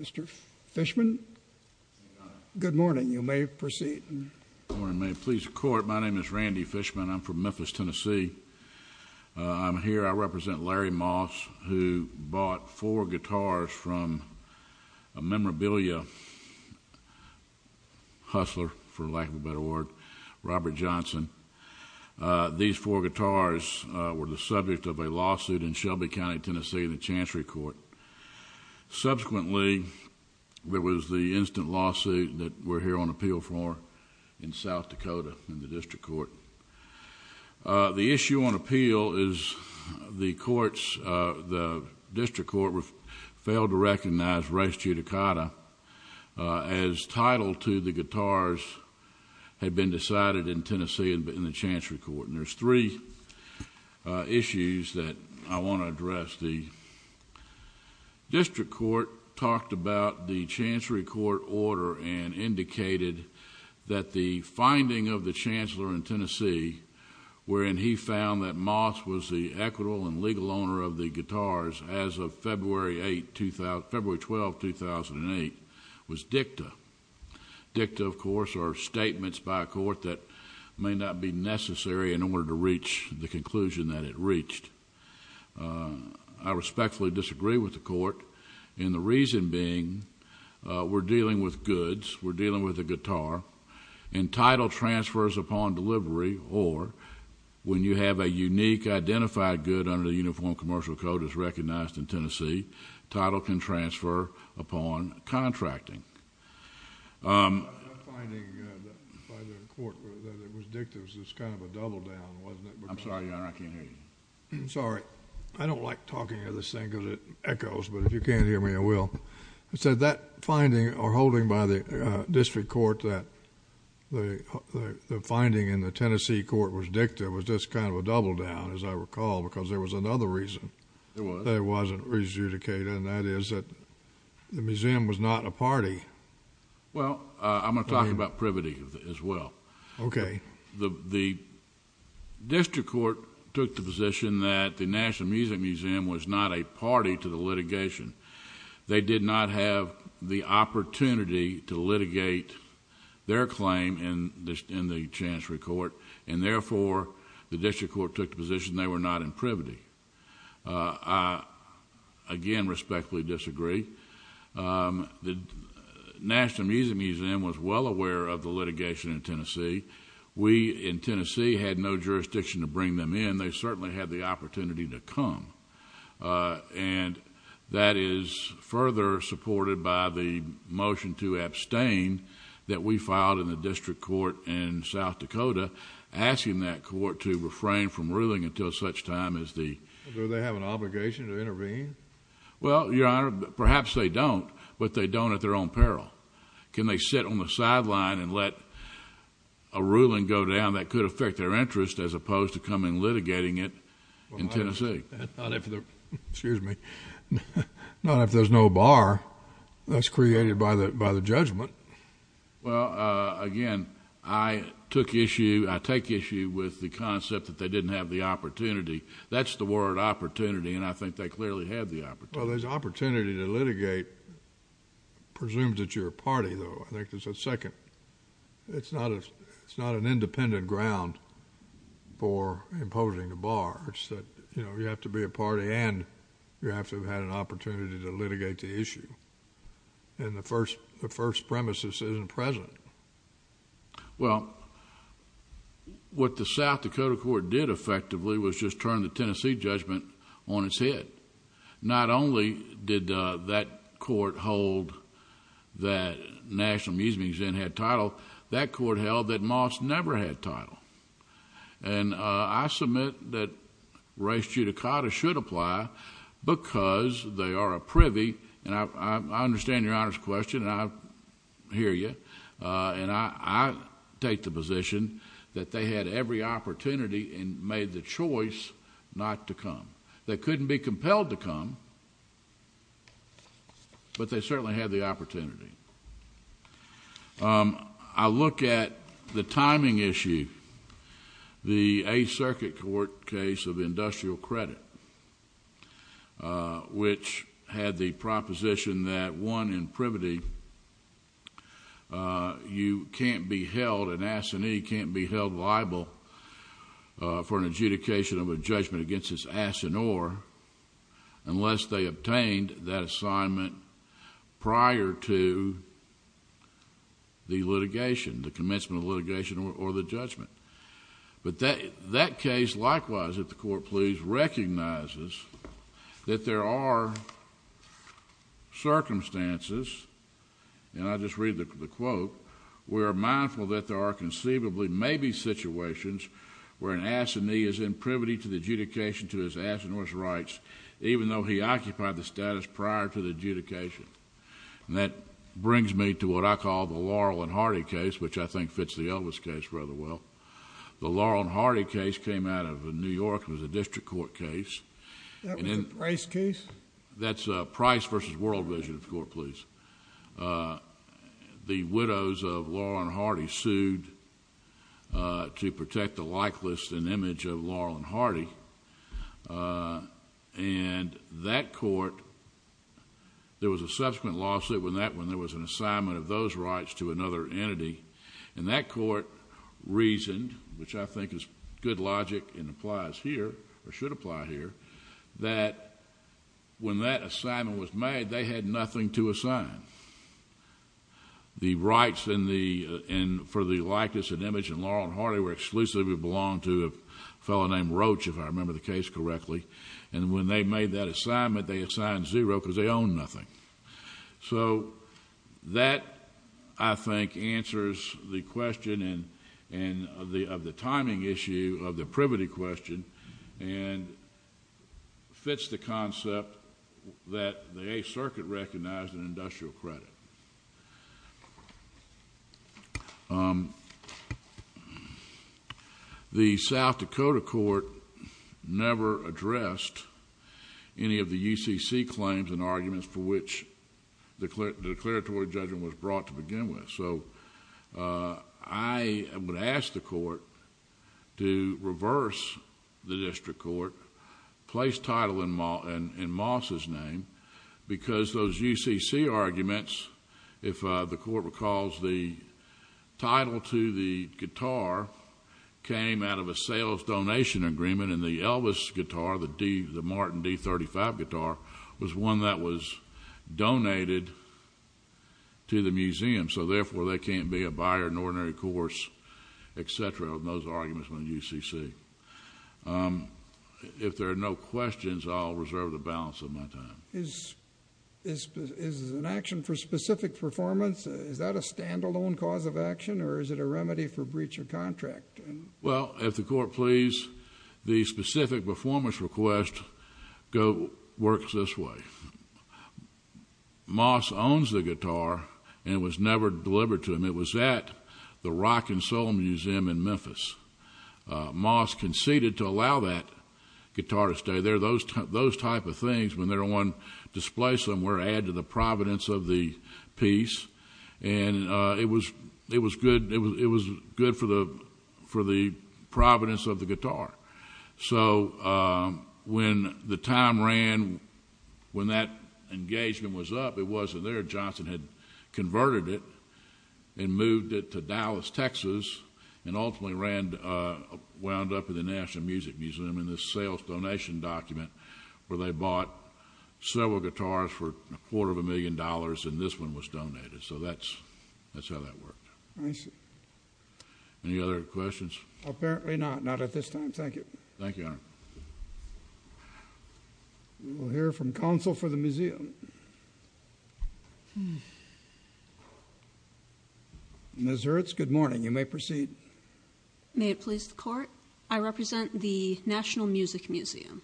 Mr. Fishman, good morning. You may proceed. Good morning. May it please the court, my name is Randy Fishman. I'm from Memphis, Tennessee. I'm here, I represent Larry Moss, who bought four guitars from a memorabilia hustler, for lack of a better word, Robert Johnson. These four guitars were the subject of a lawsuit in Shelby County, Tennessee, in the Chancery Court. Subsequently, there was the instant lawsuit that we're here on appeal for in South Dakota in the District Court. The issue on appeal is the courts, the District Court, failed to recognize Rex Chutakata as title to the guitars had been decided in Tennessee in the Chancery Court. And there's three issues that I want to address. The District Court talked about the Chancery Court order and indicated that the finding of the Chancellor in Tennessee, wherein he found that Moss was the equitable and legal owner of the guitars as of February 12, 2008, was dicta. Dicta, of course, are statements by a court that may not be necessary in order to reach the conclusion that it reached. I respectfully disagree with the court, and the reason being we're dealing with goods, we're dealing with a guitar, and title transfers upon delivery, or when you have a unique identified good under the Uniform Commercial Code as recognized in Tennessee, title can transfer upon contracting. I'm sorry, Your Honor, I can't hear you. Sorry. I don't like talking to this thing because it echoes, but if you can't hear me, I will. I said that finding or holding by the District Court that the finding in the Tennessee court was dicta was just kind of a double down, as I recall, because there was another reason that it wasn't Rex Chutakata, and that is that the museum was not a party. Well, I'm going to talk about privity as well. Okay. The District Court took the position that the National Music Museum was not a party to the litigation. They did not have the opportunity to litigate their claim in the Chancellory Court, and therefore the District Court took the position they were not in privity. I again respectfully disagree. The National Music Museum was well aware of the litigation in Tennessee. We in Tennessee had no jurisdiction to bring them in. They certainly had the opportunity to come, and that is further supported by the motion to abstain that we filed in the District Court in South Dakota, asking that court to refrain from ruling until such time as the... Do they have an obligation to intervene? Well, Your Honor, perhaps they don't, but they don't at their own peril. Can they sit on the sideline and let a ruling go down that could affect their interest as opposed to come in litigating it in Tennessee? Not if there's no bar that's created by the judgment. Well, again, I take issue with the concept that they didn't have the opportunity. That's the word opportunity, and I think they clearly had the opportunity. Well, there's opportunity to litigate. Presumed that you're a party, though. I think there's a second. It's not an independent ground for imposing a bar. It's that you have to be a party and you have to have had an opportunity to litigate the issue, and the first premises isn't present. Well, what the South Dakota court did effectively was just turn the Tennessee judgment on its head. Not only did that court hold that National Museums Inn had title, that court held that Moss never had title, and I submit that race judicata should apply because they are a privy, and I understand Your Honor's question, and I hear you, and I take the position that they had every opportunity and made the choice not to come. They couldn't be compelled to come, but they certainly had the opportunity. I look at the timing issue, the Eighth Circuit court case of industrial credit, which had the proposition that one in privity, you can't be held, an assinee unless they obtained that assignment prior to the litigation, the commencement of litigation or the judgment, but that case likewise, if the court please, recognizes that there are circumstances, and I'll just read the quote, we are mindful that there are conceivably maybe situations where an assinee is in privity to the adjudication to his ass and his rights even though he occupied the status prior to the adjudication, and that brings me to what I call the Laurel and Hardy case, which I think fits the Elvis case rather well. The Laurel and Hardy case came out of New York. It was a district court case. That was a Price case? That's Price versus World Vision, if the court please. The widows of Laurel and Hardy sued to protect the likeness and image of Laurel and Hardy, and that court, there was a subsequent lawsuit when there was an assignment of those rights to another entity, and that court reasoned, which I think is good that they had nothing to assign. The rights for the likeness and image in Laurel and Hardy were exclusively belonged to a fellow named Roach, if I remember the case correctly, and when they made that assignment, they assigned zero because they owned nothing, so that I think answers the question of the timing issue of the privity question and fits the concept that the Eighth Circuit recognized an industrial credit. The South Dakota court never addressed any of the UCC claims and arguments for which the declaratory judgment was brought to begin with, so I would ask the court to reverse the district court, place title in Moss's name, because those UCC arguments, if the court recalls, the title to the guitar came out of a sales donation agreement, and the Elvis guitar, the Martin D35 guitar, was one that was donated to the museum, so therefore, they can't be a buyer in an ordinary course, et cetera, in those arguments from the UCC. If there are no questions, I'll reserve the balance of my time. Is an action for specific performance, is that a standalone cause of action, or is it a remedy for breach of contract? Well, if the court please, the specific performance request works this way. Moss owns the guitar and it was never delivered to him. It was at the Rock and Soul Museum in Memphis. Moss conceded to allow that guitar to stay there. Those type of things, when they're on display somewhere, add to the providence of the piece, and it was good for the providence of the guitar. When that engagement was up, it wasn't there. Johnson had converted it and moved it to Dallas, Texas, and ultimately wound up in the National Music Museum in this sales donation document, where they bought several guitars for a quarter of a million dollars, and this one was Thank you, Your Honor. We'll hear from counsel for the museum. Ms. Hertz, good morning. You may proceed. May it please the court, I represent the National Music Museum.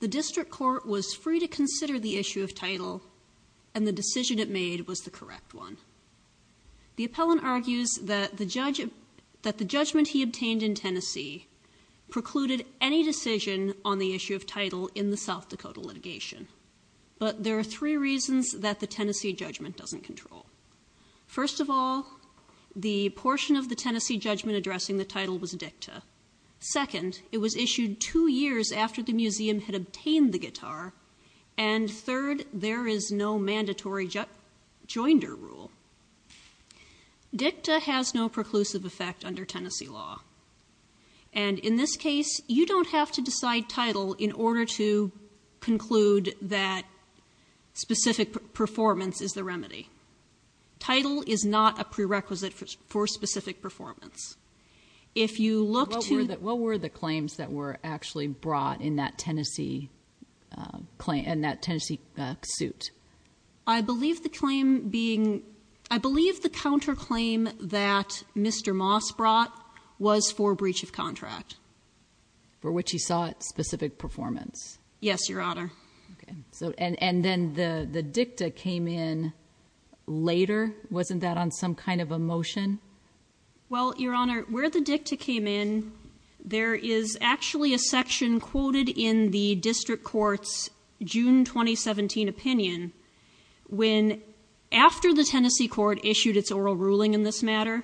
The district court was free to consider the issue of title, and the decision it made was the correct one. The appellant argues that the judgment he obtained in Tennessee precluded any decision on the issue of title in the South Dakota litigation, but there are three reasons that the Tennessee judgment doesn't control. First of all, the portion of the Tennessee judgment addressing the title was dicta. Second, it was issued two years after the museum had obtained the guitar, and third, there is no mandatory joinder rule. Dicta has no preclusive effect under Tennessee law, and in this case, you don't have to decide title in order to conclude that specific performance is the remedy. Title is not a prerequisite for specific performance. If you look to- That Tennessee suit. I believe the counterclaim that Mr. Moss brought was for breach of contract. For which he sought specific performance. Yes, Your Honor. And then the dicta came in later. Wasn't that on some kind of a motion? Well, Your Honor, where the dicta came in, there is actually a section quoted in the district courts June 2017 opinion when after the Tennessee court issued its oral ruling in this matter,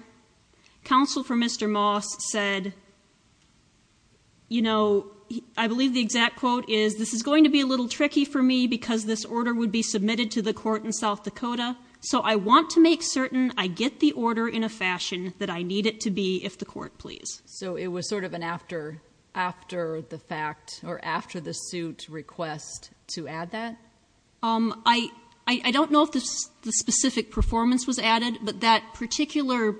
counsel for Mr. Moss said, you know, I believe the exact quote is, this is going to be a little tricky for me because this order would be submitted to the court in South Dakota, so I want to make certain I get the order in a fashion that I need it to be if the court please. So it was sort of an after the fact or after the suit request to add that? I don't know if the specific performance was added, but that particular,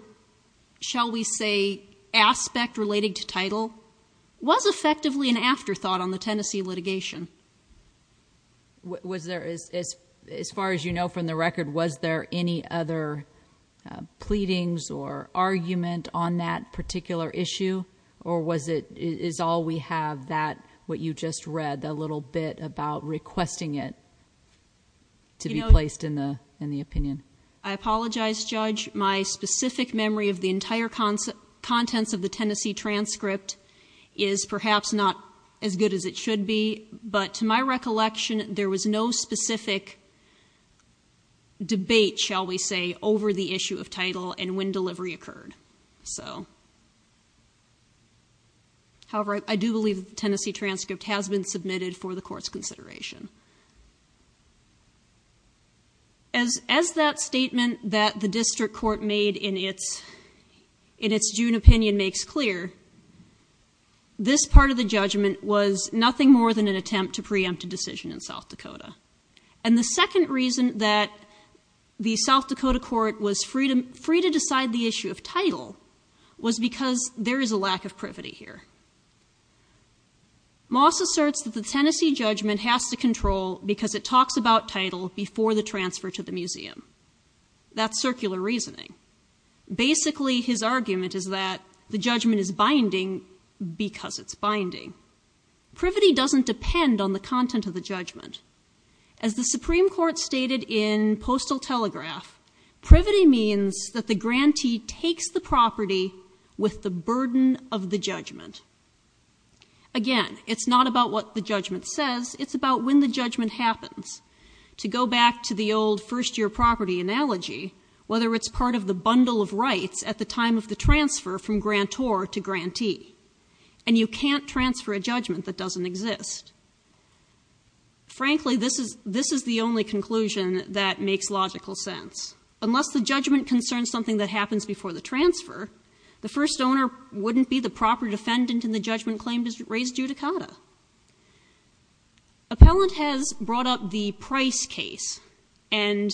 shall we say, aspect relating to title was effectively an afterthought on the Tennessee litigation. As far as you know from the record, was there any other pleadings or argument on that particular issue or was it, is all we have that, what you just read, that little bit about requesting it to be placed in the opinion? I apologize, Judge. My specific memory of the entire contents of the Tennessee transcript is perhaps not as good as it should be, but to my recollection, there was no specific debate, shall we say, over the issue of title and when delivery occurred. However, I do believe the Tennessee transcript has been submitted for the court's consideration. As that statement that the district court made in its June opinion makes clear, this part of the judgment was nothing more than an attempt to preempt a decision in second reason that the South Dakota court was free to decide the issue of title was because there is a lack of privity here. Moss asserts that the Tennessee judgment has to control because it talks about title before the transfer to the museum. That's circular reasoning. Basically, his argument is that the judgment is binding because it's binding. Privity doesn't depend on the content of the judgment. As the Supreme Court stated in Postal Telegraph, privity means that the grantee takes the property with the burden of the judgment. Again, it's not about what the judgment says. It's about when the judgment happens. To go back to the old first-year property analogy, whether it's part of the bundle of rights at the time of the transfer from grantor to grantee, and you can't transfer a judgment that doesn't exist. Frankly, this is the only conclusion that makes logical sense. Unless the judgment concerns something that happens before the transfer, the first owner wouldn't be the proper defendant in the judgment claim raised due to CADA. Appellant has brought up the Price case, and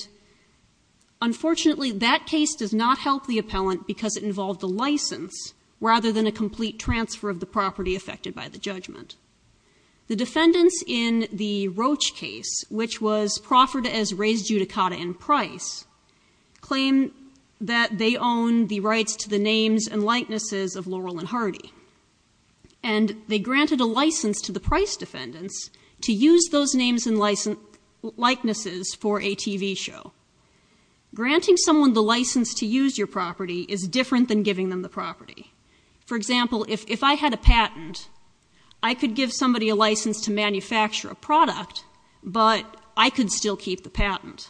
unfortunately, that case does not help the appellant because it involved a license rather than a complete transfer of the property affected by the judgment. The defendants in the Roach case, which was proffered as raised due to CADA and Price, claim that they own the rights to the names and likenesses of Laurel and Hardy, and they granted a license to the Price defendants to use those names and likenesses for a TV show. Granting someone the license to use your property is different than giving them the property. For example, if I had a patent, I could give somebody a license to manufacture a product, but I could still keep the patent.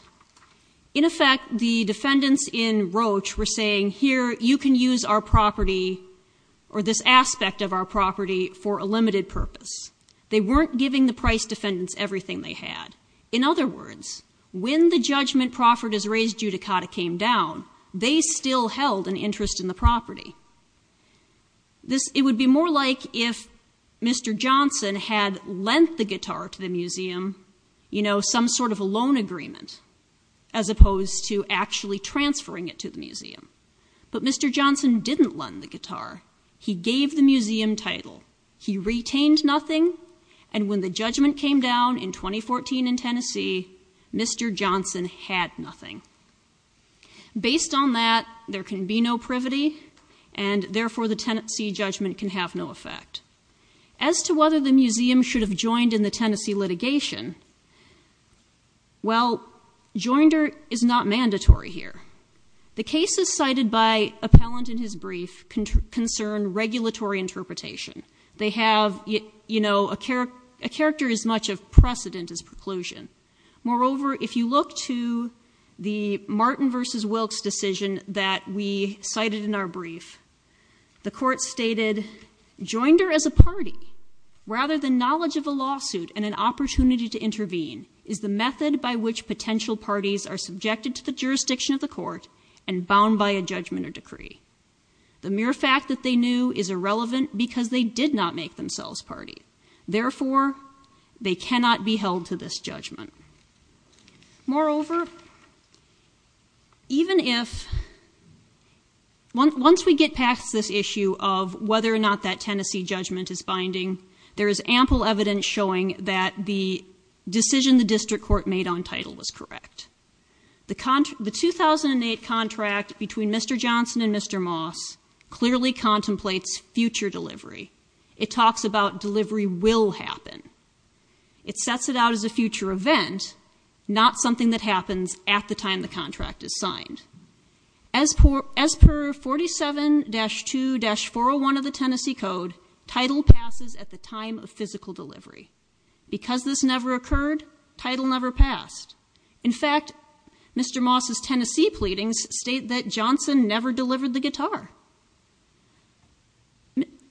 In effect, the defendants in Roach were saying, here, you can use our property or this aspect of our property for a limited purpose. They weren't giving the Price defendants everything they had. In other words, when the judgment proffered as raised due to CADA came down, they still held an interest in the property. This, it would be more like if Mr. Johnson had lent the guitar to the museum, you know, some sort of a loan agreement as opposed to actually transferring it to the museum. But Mr. Johnson didn't lend the guitar. He gave the museum title. He retained nothing. And when the judgment came down in 2014 in Tennessee, Mr. Johnson had nothing. Based on that, there can be no privity, and therefore the Tennessee judgment can have no effect. As to whether the museum should have joined in the Tennessee litigation, well, joinder is not mandatory here. The cases cited by Appellant in his brief concern regulatory interpretation. They have, you know, a character as much of precedent as preclusion. Moreover, if you look to the Martin v. Wilkes decision that we cited in our brief, the court stated joinder as a party rather than knowledge of a lawsuit and an opportunity to intervene is the method by which potential parties are subjected to the jurisdiction of the court and bound by a judgment or decree. The mere fact that they knew is irrelevant because they did not make themselves party. Therefore, they cannot be held to this judgment. Moreover, even if, once we get past this issue of whether or not that Tennessee judgment is binding, there is ample evidence showing that the decision the district court made on title was correct. The 2008 contract between Mr. Johnson and Mr. Moss clearly contemplates future delivery. It talks about delivery will happen. It sets it out as a future event, not something that happens at the time the contract is signed. As per 47-2-401 of the Tennessee code, title passes at the time of physical delivery. Because this never occurred, title never passed. In fact, Mr. Moss's Tennessee pleadings state that Johnson never delivered the guitar.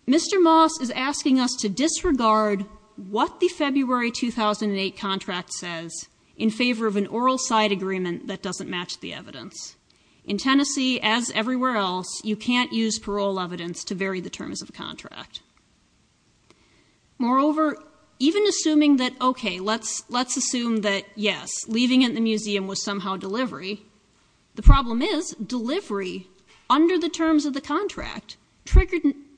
Mr. Moss is asking us to disregard what the February 2008 contract says in favor of an oral side agreement that doesn't match the evidence. In Tennessee, as everywhere else, you can't use parole evidence to vary the terms of contract. Moreover, even assuming that, okay, let's assume that, yes, leaving at the museum was somehow delivery. The contract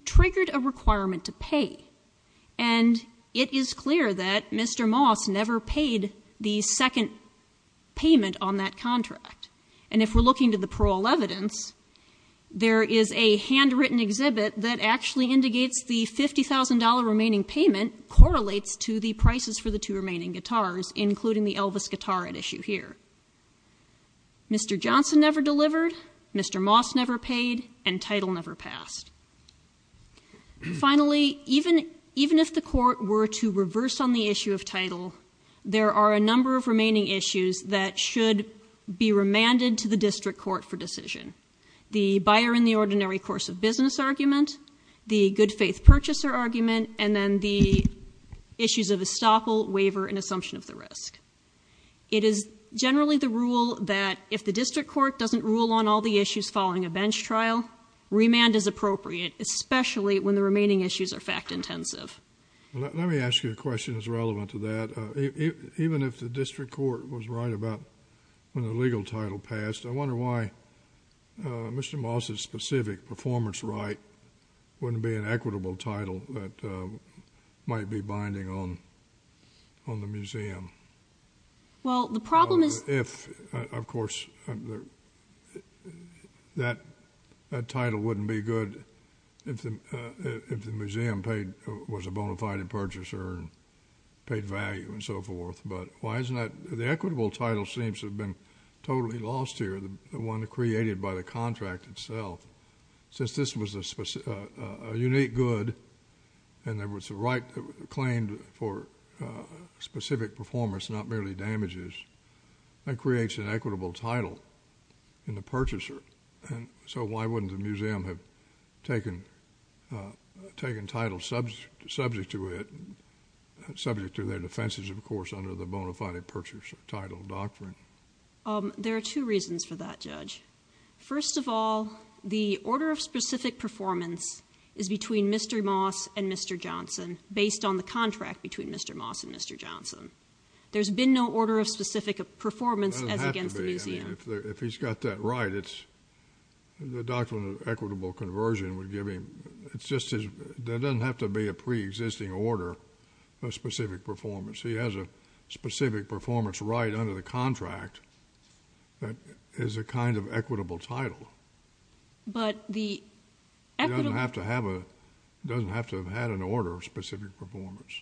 triggered a requirement to pay. And it is clear that Mr. Moss never paid the second payment on that contract. And if we're looking to the parole evidence, there is a handwritten exhibit that actually indicates the $50,000 remaining payment correlates to the prices for the two remaining guitars, including the Elvis guitar at issue here. Mr. Johnson never delivered, Mr. Moss never paid, and title never passed. Finally, even if the court were to reverse on the issue of title, there are a number of remaining issues that should be remanded to the district court for decision. The buyer in the ordinary course of business argument, the good faith purchaser argument, and then the issues of estoppel, waiver, and assumption of the risk. It is generally the rule that if the district court doesn't rule on all the issues following a bench trial, remand is appropriate, especially when the remaining issues are fact-intensive. Let me ask you a question that's relevant to that. Even if the district court was right about when the legal title passed, I wonder why Mr. Moss's specific performance right wouldn't be an equitable title that might be binding on the museum. Well, the problem is— If, of course, that title wouldn't be good if the museum was a bona fide purchaser and paid value and so forth, but why isn't that—the equitable title seems to have been totally lost here, the one created by the contract itself. Since this was a unique good and there was a right claimed for specific performance, not merely damages, that creates an equitable title in the purchaser, and so why wouldn't the museum have taken titles subject to it, subject to their defenses, of course, under the bona fide purchaser title doctrine? There are two reasons for that, Judge. First of all, the order of specific performance is between Mr. Moss and Mr. Johnson based on the contract between Mr. Moss and Mr. Johnson. There's been no order of specific performance as against the museum. It doesn't have to be. If he's got that right, it's—the doctrine of equitable conversion would give him—it's just his—there doesn't have to be a pre-existing order of specific performance. He has a specific performance right under the contract that is a kind of equitable title. But the equitable— He doesn't have to have a—he doesn't have to have had an order of specific performance.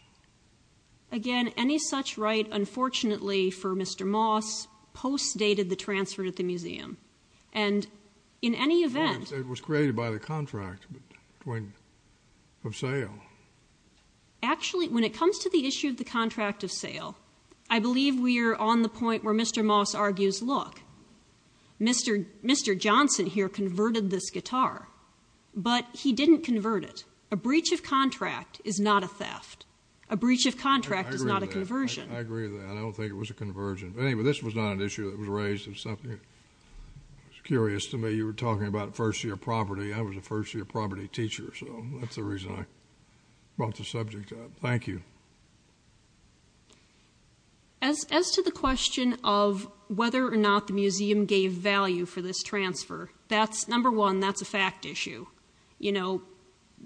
Again, any such right, unfortunately for Mr. Moss, post-dated the transfer to the museum. And in any event— It was created by the contract between—of sale. Actually, when it comes to the issue of the contract of sale, I believe we are on the point where Mr. Moss argues, look, Mr. Johnson here converted this guitar, but he didn't convert it. A breach of contract is not a theft. A breach of contract is not a conversion. I agree with that. I don't think it was a conversion. Anyway, this was not an issue that was raised. It was something that was curious to me. You were talking about first-year property. I was a first-year property teacher, so that's the reason I brought the subject up. Thank you. As to the question of whether or not the museum gave value for this transfer, that's—number one, that's a fact issue. You know,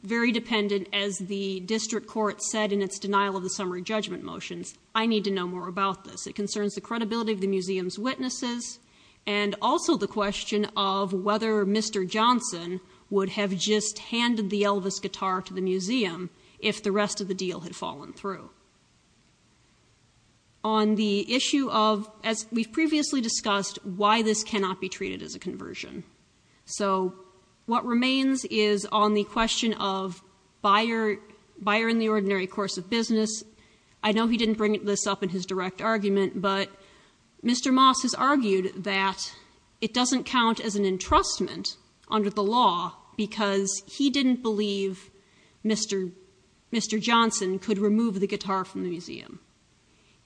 very dependent, as the district court said in its denial of the summary judgment motions, I need to know more about this. It concerns the credibility of the museum's witnesses and also the question of whether Mr. Johnson would have just handed the Elvis guitar to the museum if the rest of the deal had fallen through. On the issue of, as we've previously discussed, why this cannot be treated as a conversion. So, what remains is on the question of buyer in the ordinary course of business. I know he didn't bring this up in his direct argument, but Mr. Moss has argued that it doesn't count as an entrustment under the law because he didn't believe Mr. Johnson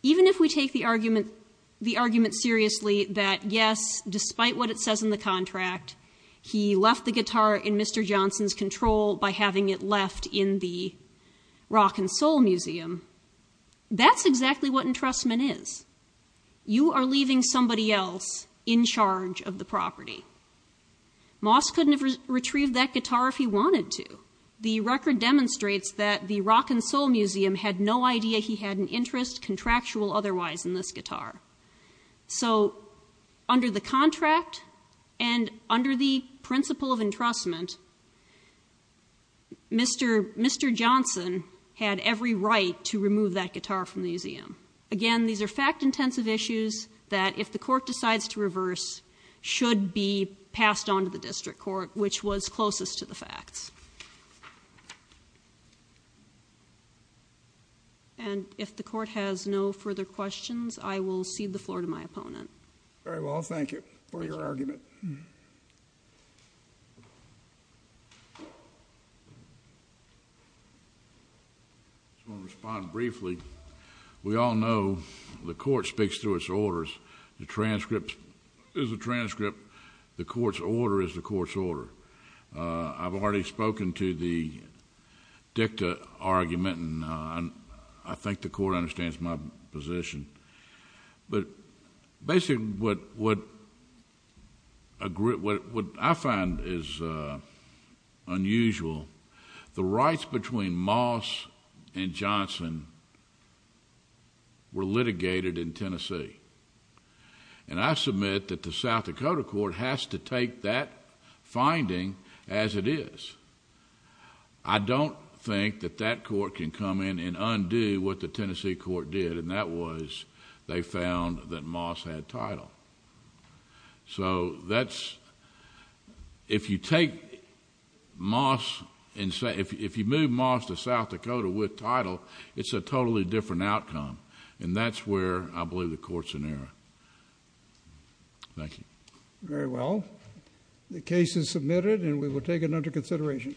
Even if we take the argument seriously that, yes, despite what it says in the contract, he left the guitar in Mr. Johnson's control by having it left in the Rock and Soul Museum, that's exactly what entrustment is. You are leaving somebody else in charge of the property. Moss couldn't have retrieved that guitar if he wanted to. The record demonstrates that the Rock and Soul Museum had no idea he had an interest contractual otherwise in this guitar. So, under the contract and under the principle of entrustment, Mr. Johnson had every right to remove that guitar from the museum. Again, these are fact-intensive issues that, if the court decides to reverse, should be passed on to the district court, which was closest to the facts. Thank you. And if the court has no further questions, I will cede the floor to my opponent. Very well. Thank you for your argument. I'm going to respond briefly. We all know the court speaks through its orders. The transcript is a transcript. The court's order is the court's order. I've already spoken to the dicta argument, and I think the court understands my position. But basically, what I find is unusual, the rights between Moss and Johnson were litigated in Tennessee. And I submit that the South Dakota court has to take that finding as it is. I don't think that that court can come in and undo what the Tennessee court did, and that was they found that Moss had title. So, if you move Moss to South Dakota with title, it's a totally different outcome. And that's where I believe the court's in error. Thank you. Very well. The case is submitted, and we will take it under consideration.